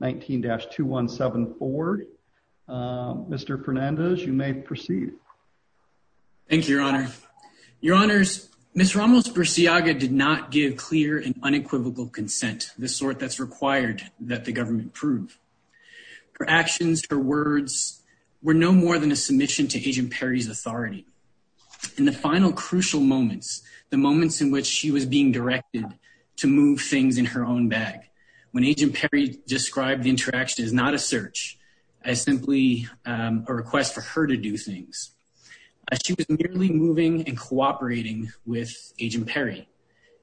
19-217-4. Mr. Fernandez, you may proceed. Thank you, Your Honor. Your Honors, Ms. Ramos-Burciaga did not give clear and unequivocal consent, the sort that's required that the government prove. Her actions, her words, were no more than a submission to HRSA. In the final crucial moments, the moments in which she was being directed to move things in her own bag, when Agent Perry described the interaction as not a search, as simply a request for her to do things, she was merely moving and cooperating with Agent Perry.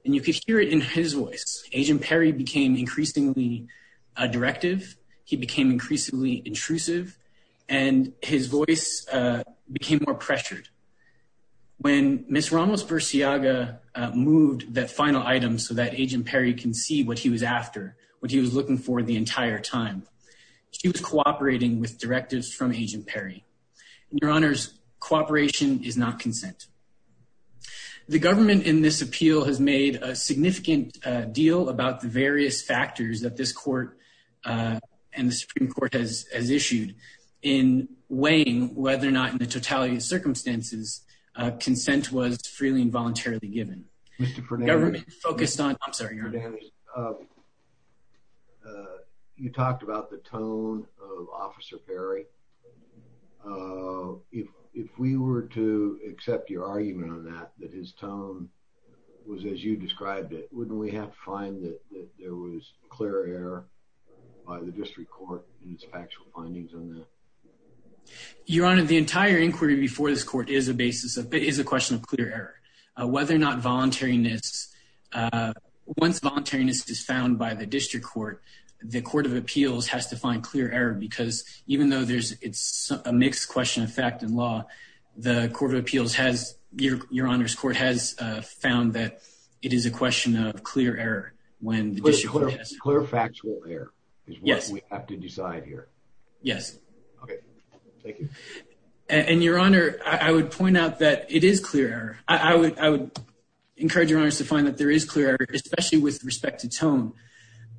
And you could hear it in his voice. Agent Perry became increasingly directive, he became increasingly intrusive, and his voice became more pressured. When Ms. Ramos-Burciaga moved that final item so that Agent Perry can see what he was after, what he was looking for the entire time, she was cooperating with directives from Agent Perry. Your Honors, cooperation is not consent. The government in this appeal has made a significant deal about the various factors that this court and the Supreme Court has issued in weighing whether or not in the totality of circumstances, consent was freely and voluntarily given. Mr. Fernandez, you talked about the tone of Officer Perry. If we were to accept your argument on that, that his tone was as you described it, wouldn't we have to find that there was clear error by the district court in its factual findings on that? Your Honor, the entire inquiry before this court is a question of clear error. Whether or not voluntariness, once voluntariness is found by the district court, the Court of Appeals has to find clear error because even though it's a mixed question of fact and law, the Court of Appeals has, Your Honor's court has found that it is a question of clear error. Clear factual error is what we have to decide here. Yes. Okay. Thank you. And Your Honor, I would point out that it is clear error. I would encourage Your Honors to find that there is clear error, especially with respect to tone.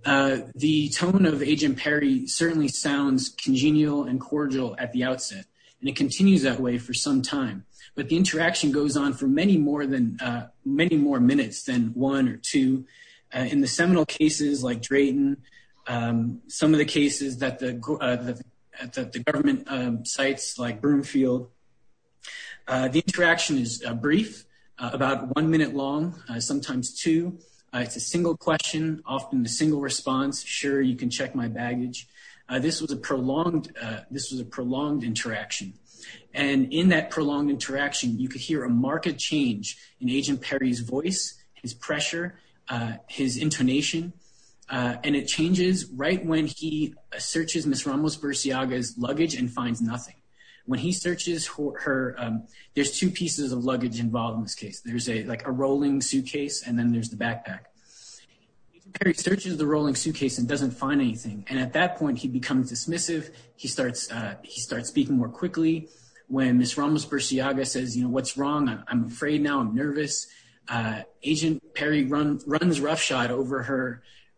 The tone of Agent Perry certainly sounds congenial and cordial at the outset, and it continues that way for some time. But the interaction goes on for many more minutes than one or two. In the seminal cases like Drayton, some of the cases that the government cites like Broomfield, the interaction is brief, about one minute long, sometimes two. It's a single question, often a single response. Sure, you can check my baggage. This was a prolonged interaction. And in that prolonged interaction, you could hear a marked change in Agent Perry's voice, his pressure, his intonation, and it changes right when he searches Ms. Ramos-Burciaga's luggage and finds nothing. When he searches her, there's two pieces of luggage involved in this case. There's like a rolling suitcase, and then there's the backpack. Agent Perry searches the rolling suitcase and doesn't find anything. And at that point, he becomes dismissive. He starts speaking more quickly. When Ms. Ramos-Burciaga says, you know, what's wrong? I'm afraid now. I'm nervous. Agent Perry runs roughshod over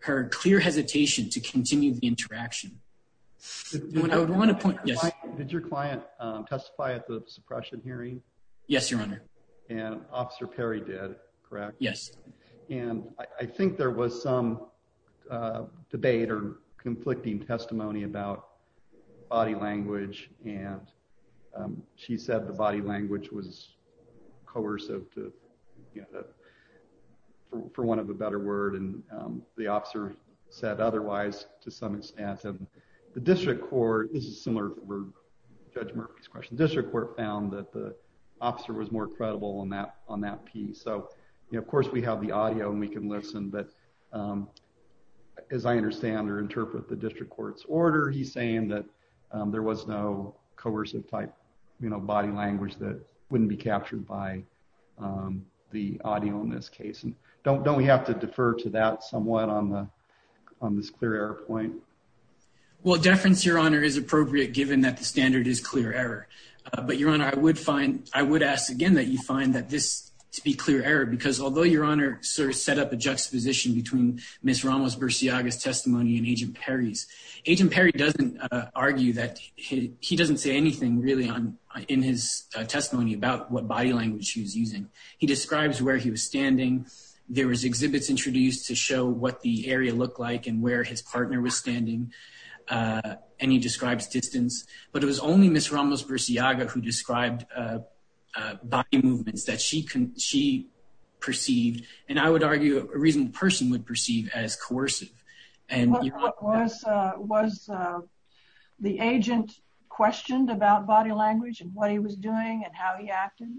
her clear hesitation to continue the interaction. Did your client testify at the suppression hearing? Yes, Your Honor. And Officer Perry did, correct? Yes. And I think there was some debate or conflicting testimony about body language. And she said the body language was coercive, for want of a better word. And the officer said otherwise, to some extent. And the district court, this is similar to Judge Murphy's question, the district court found that the officer was more credible on that piece. So, you know, of course we have the audio and we can listen, but as I understand or interpret the district court's order, he's saying that there was no coercive type, you know, body language that wouldn't be captured by the audio in this case. Don't we have to defer to that somewhat on this clear error point? Well, deference, Your Honor, is appropriate given that the standard is clear error. But Your Honor, I would find, I would ask again that you find that this to be clear error because although Your Honor sort of set up a juxtaposition between Ms. Ramos-Burciaga's testimony and Agent Perry's. Agent Perry doesn't argue that, he doesn't say anything really in his testimony about what body language he was using. He describes where he was standing. There was exhibits introduced to show what the area looked like and where his partner was standing. And he describes distance. But it was only Ms. Ramos-Burciaga who described body movements that she perceived, and I would argue a reasonable person would perceive as coercive. Was the agent questioned about body language and what he was doing and how he acted?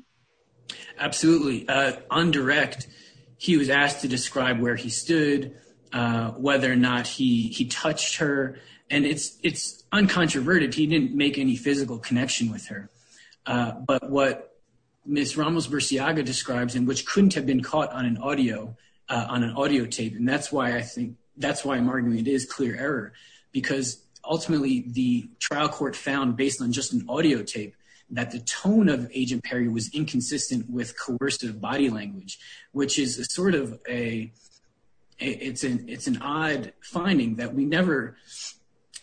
Absolutely. On direct, he was asked to describe where he stood, whether or not he touched her. And it's uncontroverted. He didn't make any physical connection with her. But what Ms. Ramos-Burciaga describes and which couldn't have been caught on an audio, on an audio tape, and that's why I think, that's why I'm arguing it is clear error. Because ultimately, the trial court found, based on just an audio tape, that the tone of Agent Perry was inconsistent with coercive body language, which is sort of a, it's an odd finding that we never,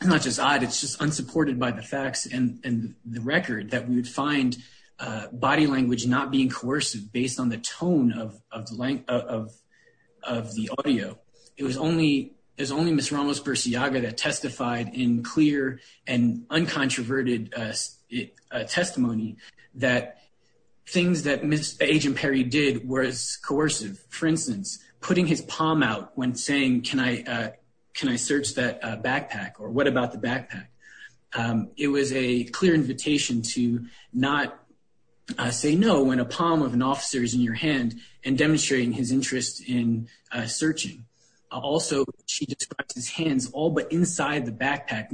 not just odd, it's just unsupported by the facts and the record, that we would find body language not being coercive based on the tone of the audio. It was only Ms. Ramos-Burciaga that testified in clear and uncontroverted testimony that things that Agent Perry did was coercive. For instance, putting his palm out when saying, can I search that backpack or what about the backpack? It was a clear invitation to not say no when a palm of an officer is in your hand and demonstrating his interest in searching. Also, she describes his hands all but inside the backpack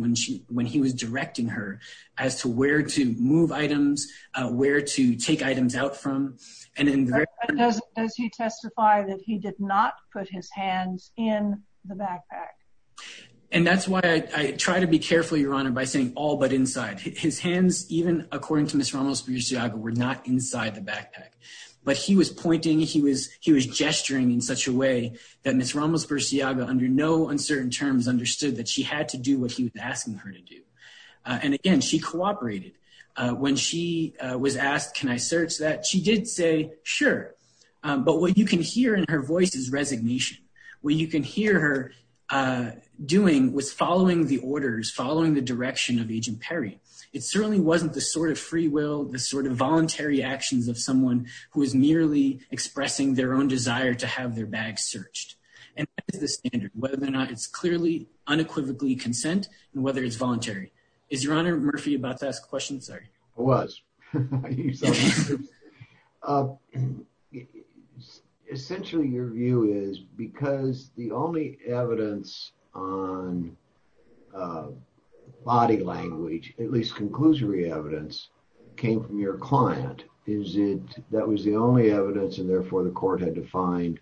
when he was directing her as to where to move items, where to take items out from. But does he testify that he did not put his hands in the backpack? And that's why I try to be careful, Your Honor, by saying all but inside. His hands, even according to Ms. Ramos-Burciaga, were not inside the backpack. But he was pointing, he was gesturing in such a way that Ms. Ramos-Burciaga under no uncertain terms understood that she had to do what he was asking her to do. And again, she cooperated. When she was asked, can I search that, she did say, sure. But what you can hear in her voice is resignation. What you can hear her doing was following the orders, following the direction of Agent Perry. It certainly wasn't the sort of free will, the sort of voluntary actions of someone who is merely expressing their own desire to have their bag searched. And that is the standard, whether or not it's clearly unequivocally consent and whether it's voluntary. Is Your Honor Murphy about to ask a question? Sorry. I was. Essentially, your view is because the only evidence on body language, at least conclusory evidence, came from your client, that was the only evidence and therefore the court had to find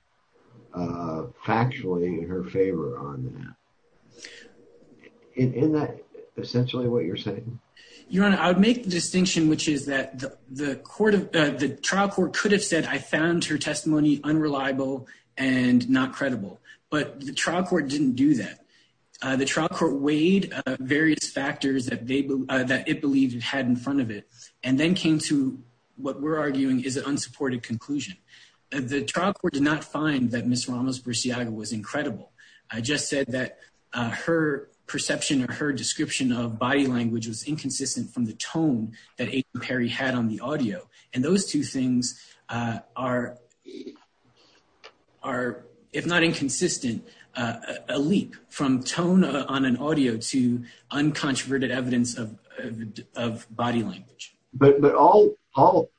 factually in her favor on that. Isn't that essentially what you're saying? Your Honor, I would make the distinction which is that the trial court could have said I found her testimony unreliable and not credible, but the trial court didn't do that. The trial court weighed various factors that it believed it had in front of it and then came to what we're arguing is an unsupported conclusion. The trial court did not find that Ms. Ramos-Burciaga was incredible. I just said that her perception or her description of body language was inconsistent from the tone that Agent Perry had on the audio. And those two things are, if not inconsistent, a leap from tone on an audio to uncontroverted evidence of body language. But all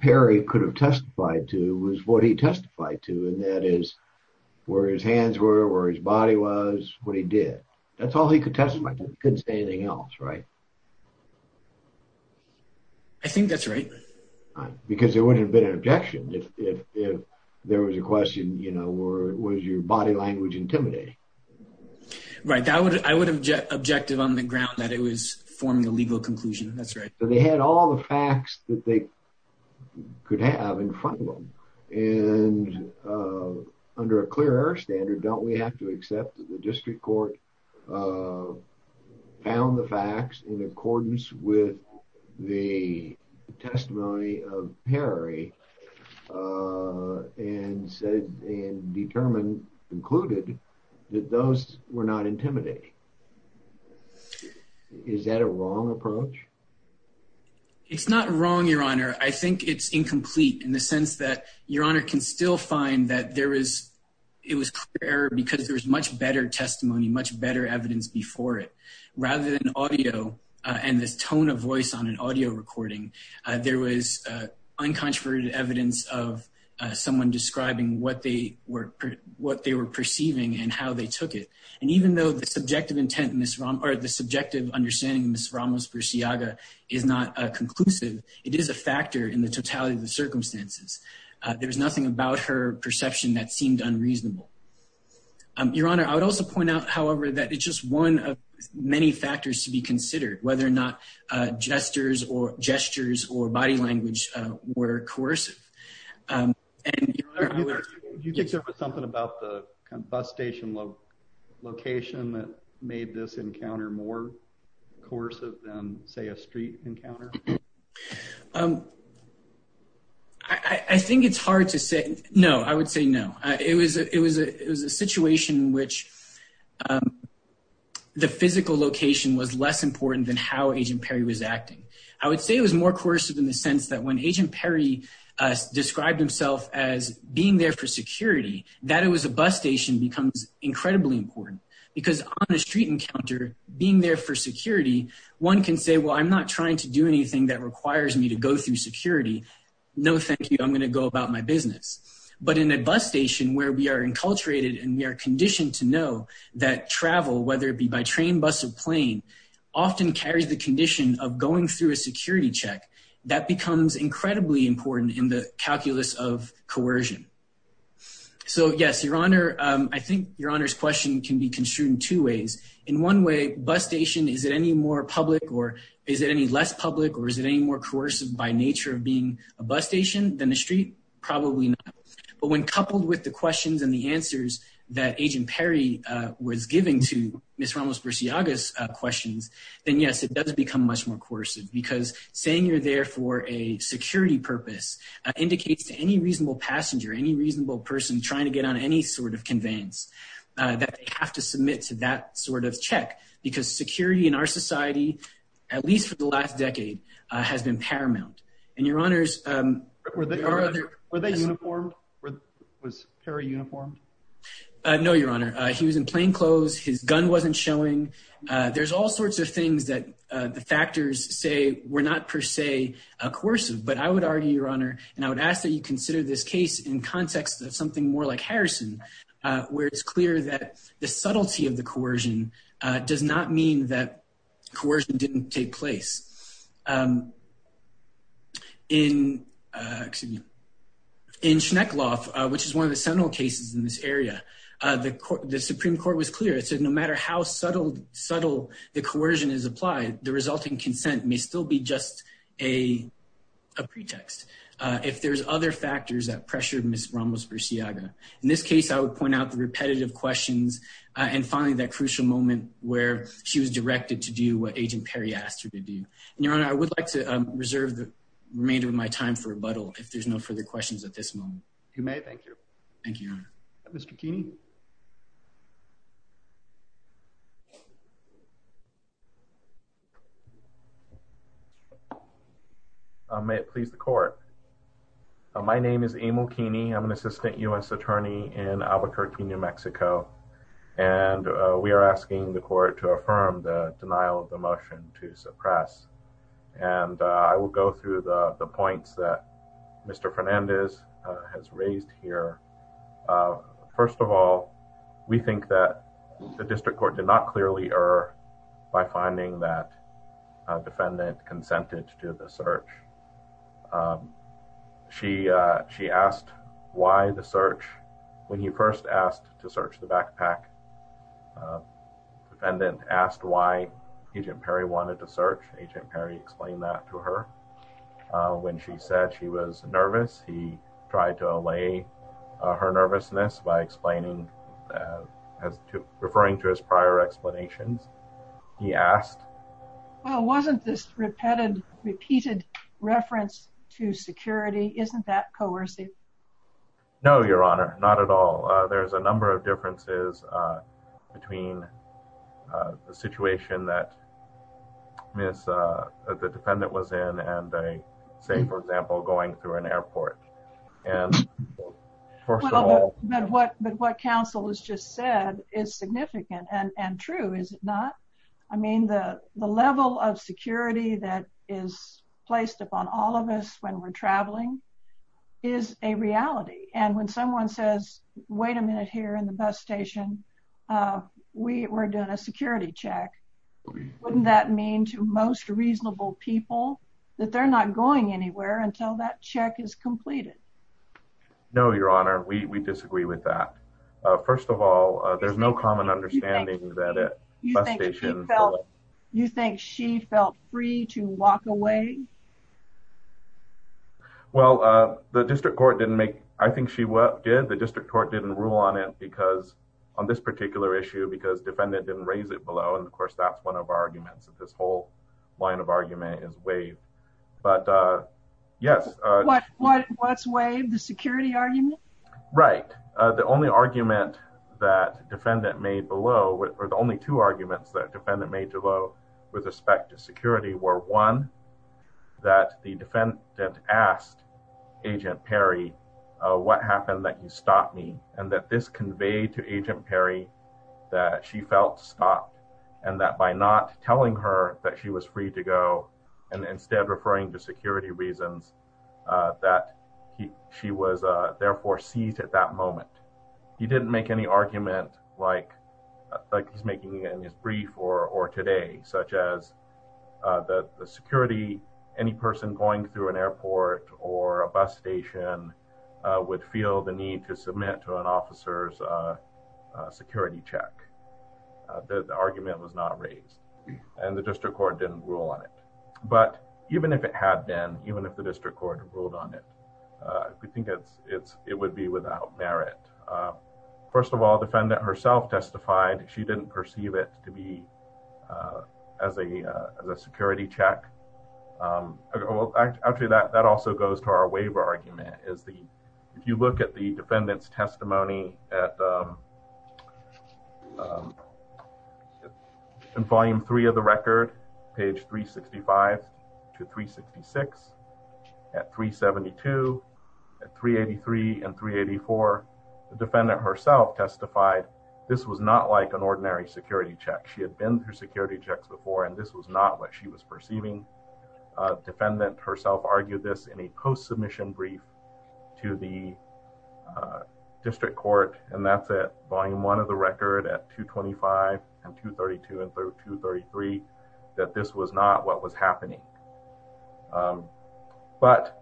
Perry could have testified to was what he testified to, and that is where his hands were, where his body was, what he did. That's all he could testify to. He couldn't say anything else, right? I think that's right. Because there wouldn't have been an objection if there was a question, you know, was your body language intimidating? Right. I would have objected on the ground that it was forming a legal conclusion. That's right. They had all the facts that they could have in front of them. And under a clear error standard, don't we have to accept that the district court found the facts in accordance with the testimony of Perry and determined, concluded, that those were not intimidating? Is that a wrong approach? It's not wrong, Your Honor. I think it's incomplete in the sense that Your Honor can still find that it was clear because there was much better testimony, much better evidence before it. Rather than audio and this tone of voice on an audio recording, there was uncontroverted evidence of someone describing what they were perceiving and how they took it. And even though the subjective understanding of Ms. Ramos-Burciaga is not conclusive, it is a factor in the totality of the circumstances. There was nothing about her perception that seemed unreasonable. Your Honor, I would also point out, however, that it's just one of many factors to be considered, whether or not gestures or body language were coercive. Your Honor, do you think there was something about the bus station location that made this encounter more coercive than, say, a street encounter? I think it's hard to say. No, I would say no. It was a situation in which the physical location was less important than how Agent Perry was acting. I would say it was more coercive in the sense that when Agent Perry described himself as being there for security, that it was a bus station becomes incredibly important. Because on a street encounter, being there for security, one can say, well, I'm not trying to do anything that requires me to go through security. No, thank you. I'm going to go about my business. But in a bus station where we are enculturated and we are conditioned to know that travel, whether it be by train, bus, or plane, often carries the condition of going through a security check. That becomes incredibly important in the calculus of coercion. So, yes, Your Honor, I think Your Honor's question can be construed in two ways. In one way, bus station, is it any more public or is it any less public or is it any more coercive by nature of being a bus station than a street? Probably not. But when coupled with the questions and the answers that Agent Perry was giving to Ms. Ramos-Burciaga's questions, then yes, it does become much more coercive. Because saying you're there for a security purpose indicates to any reasonable passenger, any reasonable person trying to get on any sort of conveyance, that they have to submit to that sort of check. Because security in our society, at least for the last decade, has been paramount. And Your Honor's… Were they uniformed? Was Perry uniformed? No, Your Honor. He was in plain clothes. His gun wasn't showing. There's all sorts of things that the factors say were not per se coercive. But I would argue, Your Honor, and I would ask that you consider this case in context of something more like Harrison, where it's clear that the subtlety of the coercion does not mean that coercion didn't take place. In Schneckloff, which is one of the central cases in this area, the Supreme Court was clear. It said no matter how subtle the coercion is applied, the resulting consent may still be just a pretext if there's other factors that pressure Ms. Ramos-Burciaga. In this case, I would point out the repetitive questions, and finally, that crucial moment where she was directed to do what Agent Perry asked her to do. And Your Honor, I would like to reserve the remainder of my time for rebuttal if there's no further questions at this moment. You may. Thank you. Thank you, Your Honor. Mr. Keeney? May it please the court. My name is Emil Keeney. I'm an assistant U.S. attorney in Albuquerque, New Mexico, and we are asking the court to affirm the denial of the motion to suppress. And I will go through the points that Mr. Fernandez has raised here. First of all, we think that the district court did not clearly err by finding that a defendant consented to the search. She asked why the search. When he first asked to search the backpack, the defendant asked why Agent Perry wanted to search. Agent Perry explained that to her. When she said she was nervous, he tried to allay her nervousness by explaining, referring to his prior explanations. He asked... Well, wasn't this repeated reference to security? Isn't that coercive? No, Your Honor. Not at all. There's a number of differences between the situation that the defendant was in and, say, for example, going through an airport. But what counsel has just said is significant and true, is it not? I mean, the level of security that is placed upon all of us when we're traveling is a reality. And when someone says, wait a minute here in the bus station, we're doing a security check. Wouldn't that mean to most reasonable people that they're not going anywhere until that check is completed? No, Your Honor. We disagree with that. First of all, there's no common understanding that a bus station... You think she felt free to walk away? Well, the district court didn't make... I think she did. The district court didn't rule on it because, on this particular issue, because defendant didn't raise it below. And of course, that's one of our arguments that this whole line of argument is waived. But yes... What's waived? The security argument? Right. The only argument that defendant made below, or the only two arguments that defendant made below with respect to security were, one, that the defendant asked Agent Perry, what happened that you stopped me? And that this conveyed to Agent Perry that she felt stopped, and that by not telling her that she was free to go, and instead referring to security reasons, that she was therefore seized at that moment. He didn't make any argument like he's making in his brief or today, such as the security, any person going through an airport or a bus station would feel the need to submit to an officer's security check. The argument was not raised, and the district court didn't rule on it. But even if it had been, even if the district court ruled on it, we think it would be without merit. First of all, defendant herself testified she didn't perceive it to be as a security check. Actually, that also goes to our waiver argument. If you look at the defendant's testimony in volume three of the record, page 365 to 366, at 372, at 383 and 384, the defendant herself testified this was not like an ordinary security check. She had been through security checks before, and this was not what she was perceiving. Defendant herself argued this in a post-submission brief to the district court, and that's at volume one of the record at 225 and 232 and 233, that this was not what was happening. But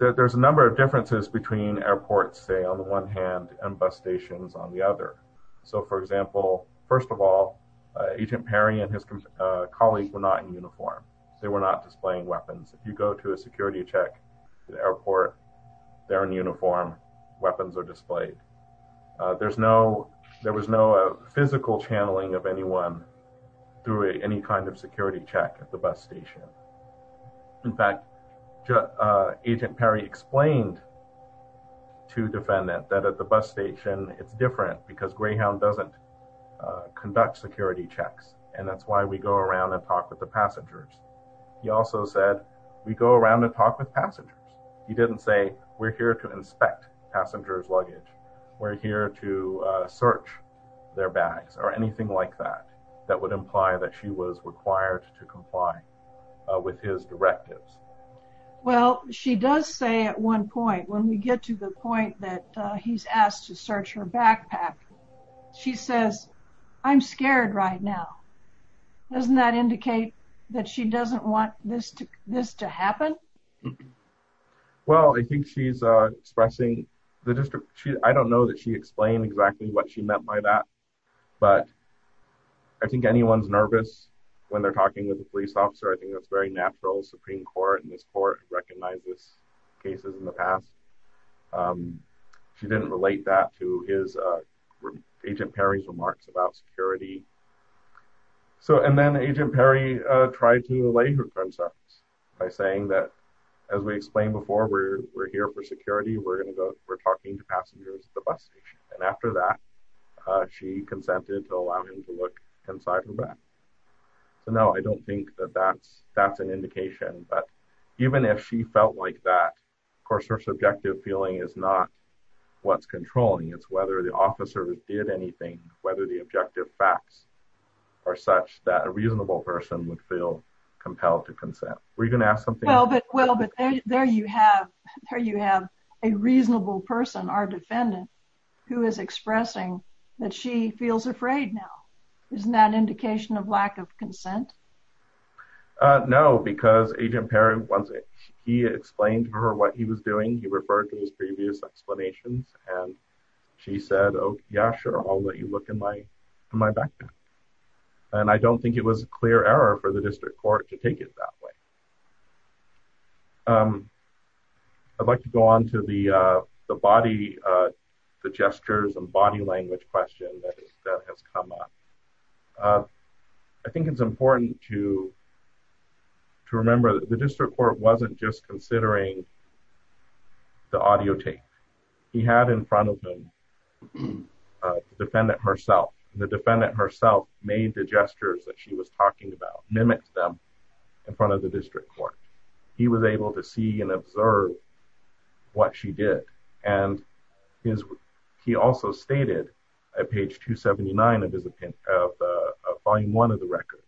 there's a number of differences between airports, say, on the one hand and bus stations on the other. So, for example, first of all, Agent Perry and his colleagues were not in uniform. They were not displaying weapons. If you go to a security check at the airport, they're in uniform, weapons are displayed. There was no physical channeling of anyone through any kind of security check at the bus station. In fact, Agent Perry explained to defendant that at the bus station, it's different because Greyhound doesn't conduct security checks, and that's why we go around and talk with the passengers. He also said, we go around and talk with passengers. He didn't say, we're here to inspect passengers' luggage, we're here to search their bags, or anything like that, that would imply that she was required to comply with his directives. Well, she does say at one point, when we get to the point that he's asked to search her backpack, she says, I'm scared right now. Doesn't that indicate that she doesn't want this to happen? Well, I think she's expressing, I don't know that she explained exactly what she meant by that, but I think anyone's nervous when they're talking with a police officer. I think that's very natural. The Supreme Court and this court recognized this cases in the past. She didn't relate that to Agent Perry's remarks about security. And then Agent Perry tried to relay her concerns by saying that, as we explained before, we're here for security, we're talking to passengers at the bus station. And after that, she consented to allow him to look inside her bag. So no, I don't think that that's an indication. But even if she felt like that, of course, her subjective feeling is not what's controlling, it's whether the officer did anything, whether the objective facts are such that a reasonable person would feel compelled to consent. Were you going to ask something? Well, but there you have a reasonable person, our defendant, who is expressing that she feels afraid now. Isn't that an indication of lack of consent? No, because Agent Perry, once he explained to her what he was doing, he referred to his previous explanations. And she said, Oh, yeah, sure. I'll let you look in my bag. And I don't think it was a clear error for the district court to take it that way. I'd like to go on to the body, the gestures and body language question that has come up. I think it's important to remember that the district court wasn't just considering the audio tape. He had in front of him the defendant herself. The defendant herself made the gestures that she was talking about, mimicked them in front of the district court. He was able to see and observe what she did. And he also stated at page 279 of volume one of the record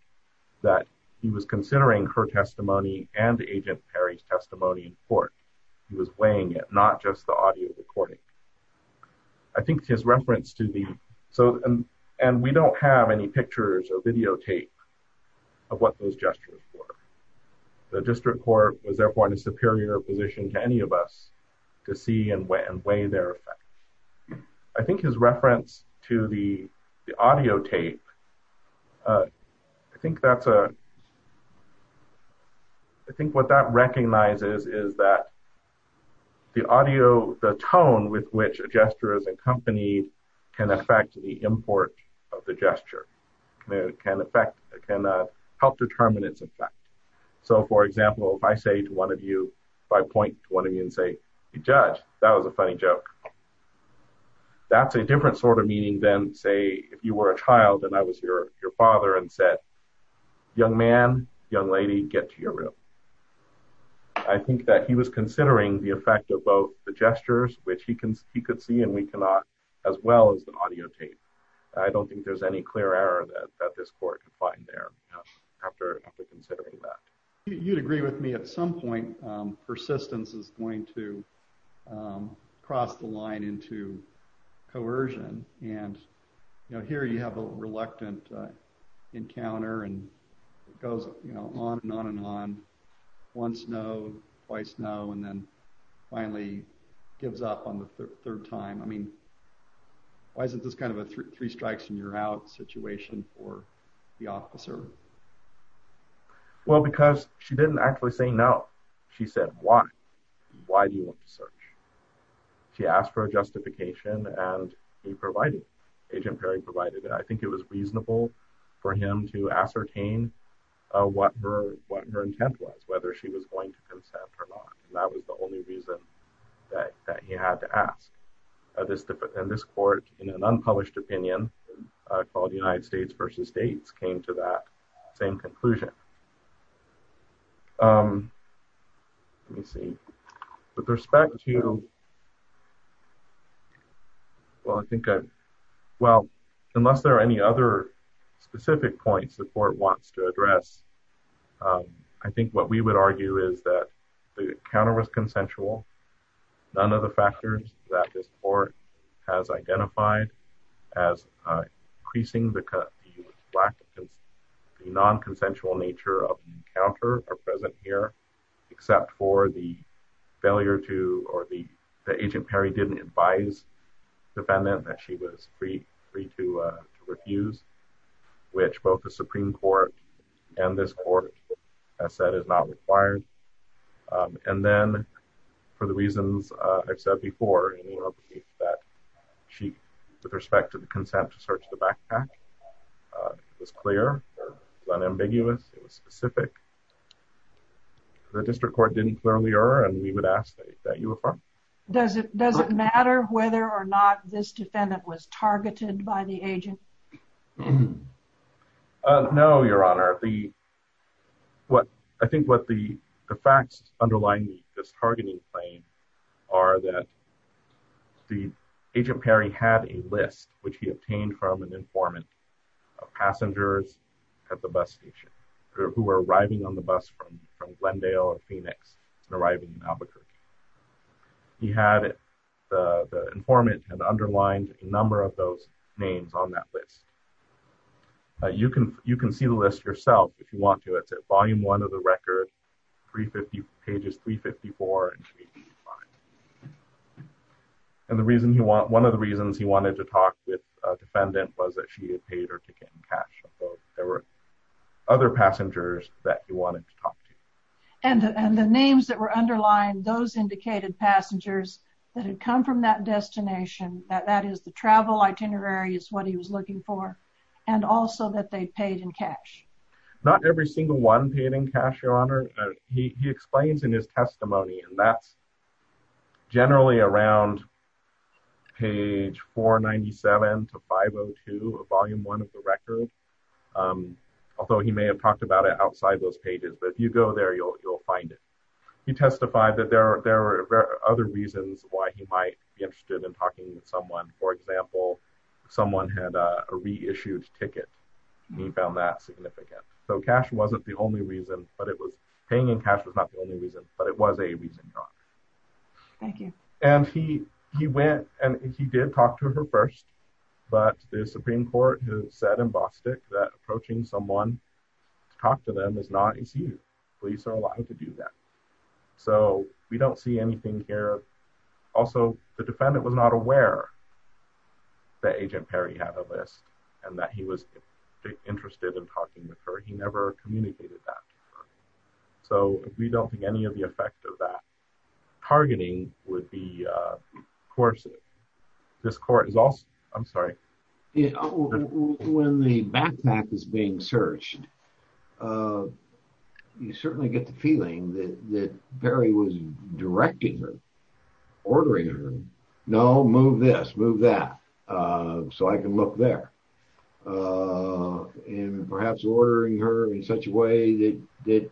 that he was considering her testimony and Agent Perry's testimony in court. He was weighing it, not just the audio recording. I think his reference to the, so, and we don't have any pictures or videotape of what those gestures were. The district court was therefore in a superior position to any of us to see and weigh their effect. I think his reference to the audio tape. I think that's a I think what that recognizes is that the audio, the tone with which a gesture is accompanied can affect the import of the gesture. It can affect, it can help determine its effect. So, for example, if I say to one of you, if I point to one of you and say, Judge, that was a funny joke. That's a different sort of meaning than, say, if you were a child and I was your father and said, young man, young lady, get to your room. I think that he was considering the effect of both the gestures, which he could see and we cannot, as well as the audio tape. I don't think there's any clear error that this court can find there after considering that. You'd agree with me at some point persistence is going to cross the line into coercion. And, you know, here you have a reluctant encounter and it goes on and on and on. Once no, twice no, and then finally gives up on the third time. I mean, why isn't this kind of a three strikes and you're out situation for the officer? Well, because she didn't actually say no. She said, why? Why do you want to search? She asked for a justification and he provided, Agent Perry provided. I think it was reasonable for him to ascertain what her intent was, whether she was going to consent or not. And that was the only reason that he had to ask. And this court in an unpublished opinion called the United States versus states came to that same conclusion. Let me see. With respect to Well, I think, well, unless there are any other specific points the court wants to address. I think what we would argue is that the counter was consensual. None of the factors that this court has identified as increasing the And then for the reasons I've said before, that she, with respect to the consent to search the backpack was clear, unambiguous, specific. The district court didn't clearly err and we would ask that you affirm. Does it, does it matter whether or not this defendant was targeted by the agent? No, Your Honor, the What I think what the facts underlying this targeting claim are that The agent Perry had a list which he obtained from an informant of passengers at the bus station who are arriving on the bus from Glendale or Phoenix arriving in Albuquerque. He had the informant had underlined number of those names on that list. You can you can see the list yourself if you want to. It's a volume one of the record 350 pages 354 And the reason you want. One of the reasons he wanted to talk with defendant was that she had paid her ticket in cash. There were other passengers that you wanted to talk to And the names that were underlying those indicated passengers that had come from that destination that that is the travel itinerary is what he was looking for. And also that they paid in cash. Not every single one paid in cash, Your Honor. He explains in his testimony and that's Generally around Page 497 to 502 of volume one of the record. Although he may have talked about it outside those pages. But if you go there, you'll, you'll find it. He testified that there are there are other reasons why he might be interested in talking with someone, for example, someone had a reissued ticket. He found that significant so cash wasn't the only reason, but it was paying in cash was not the only reason, but it was a reason. And he he went and he did talk to her first, but the Supreme Court has said embossed it that approaching someone to talk to them is not easy. Police are allowed to do that. So we don't see anything here. Also, the defendant was not aware. The agent Perry had a list and that he was interested in talking with her. He never communicated that So we don't think any of the effect of that targeting would be coercive. This court is also. I'm sorry. When the backpack is being searched. You certainly get the feeling that Perry was directing her ordering her. No, move this move that so I can look there. And perhaps ordering her in such a way that that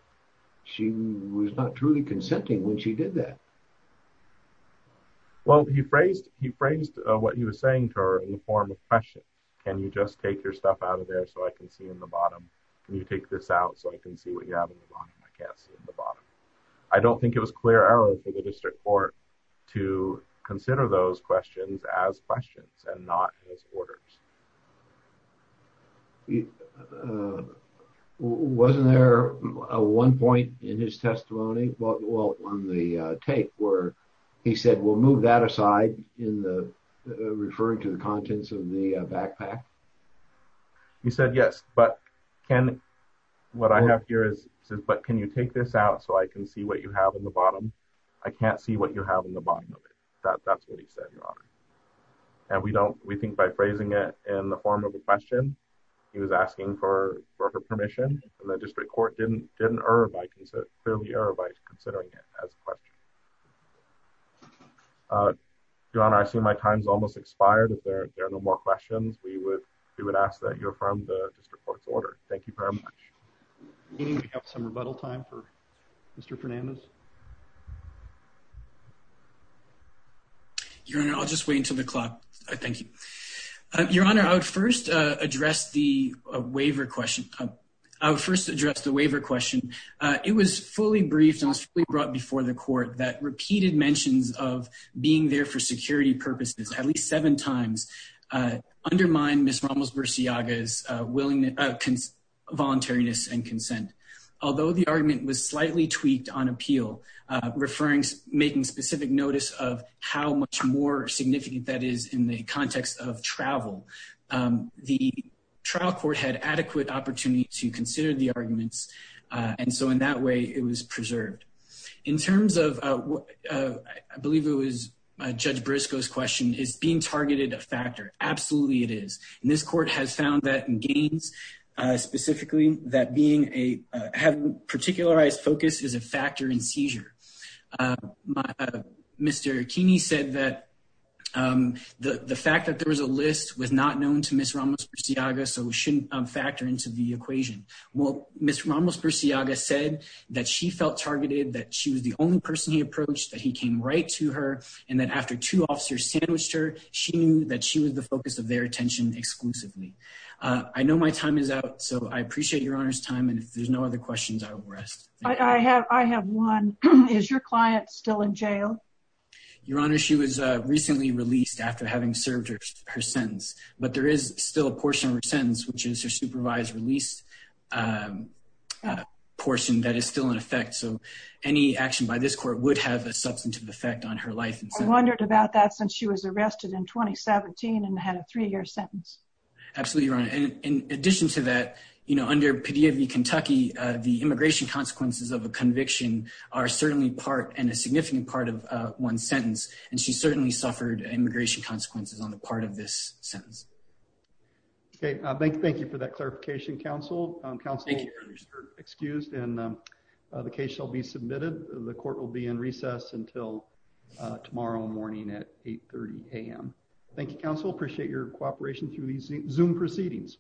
she was not truly consenting when she did that. Well, he phrased he phrased what he was saying to her in the form of question. Can you just take your stuff out of there so I can see in the bottom. Can you take this out so I can see what you have in the bottom. I can't see the bottom. I don't think it was clear error for the district court to consider those questions as questions and not as orders. Wasn't there a one point in his testimony. Well, on the tape where he said we'll move that aside in the referring to the contents of the backpack. You said yes, but can what I have here is, but can you take this out so I can see what you have in the bottom. I can't see what you're having the bottom of it. That's what he said. And we don't we think by phrasing it in the form of a question. He was asking for her permission and the district court didn't didn't earn by consider earlier by considering it as a question. John, I assume my time's almost expired. If there are no more questions we would, we would ask that you're from the district court's order. Thank you very much. Some rebuttal time for Mr Fernandez Your Honor. I'll just wait until the clock. I thank you, Your Honor. I would first address the waiver question. I would first address the waiver question. It was fully briefed and brought before the court that repeated mentions of being there for security purposes at least seven times. Although the argument was slightly tweaked on appeal referring to making specific notice of how much more significant that is in the context of travel. The trial court had adequate opportunity to consider the arguments. And so, in that way, it was preserved in terms of I believe it was Judge Briscoe's question is being targeted a factor. Absolutely, it is. And this court has found that in gains specifically that being a have particularized focus is a factor in seizure. Mr. Keeney said that the fact that there was a list was not known to Miss Ramos-Burciaga so shouldn't factor into the equation. Well, Miss Ramos-Burciaga said that she felt targeted that she was the only person he approached that he came right to her and that after two officers sandwiched her she knew that she was the focus of their attention exclusively. I know my time is out. So I appreciate your honor's time. And if there's no other questions, I will rest. I have one. Is your client still in jail? Your Honor, she was recently released after having served her sentence, but there is still a portion of her sentence, which is her supervised release portion that is still in effect. So any action by this court would have a substantive effect on her life. I wondered about that since she was arrested in 2017 and had a three year sentence. Absolutely, Your Honor. And in addition to that, you know, under PDA v. Kentucky, the immigration consequences of a conviction are certainly part and a significant part of one sentence. And she certainly suffered immigration consequences on the part of this sentence. Thank you for that clarification, counsel. Counsel, you are excused and the case shall be submitted. The court will be in recess until tomorrow morning at 830 a.m. Thank you, counsel. Appreciate your cooperation through these Zoom proceedings.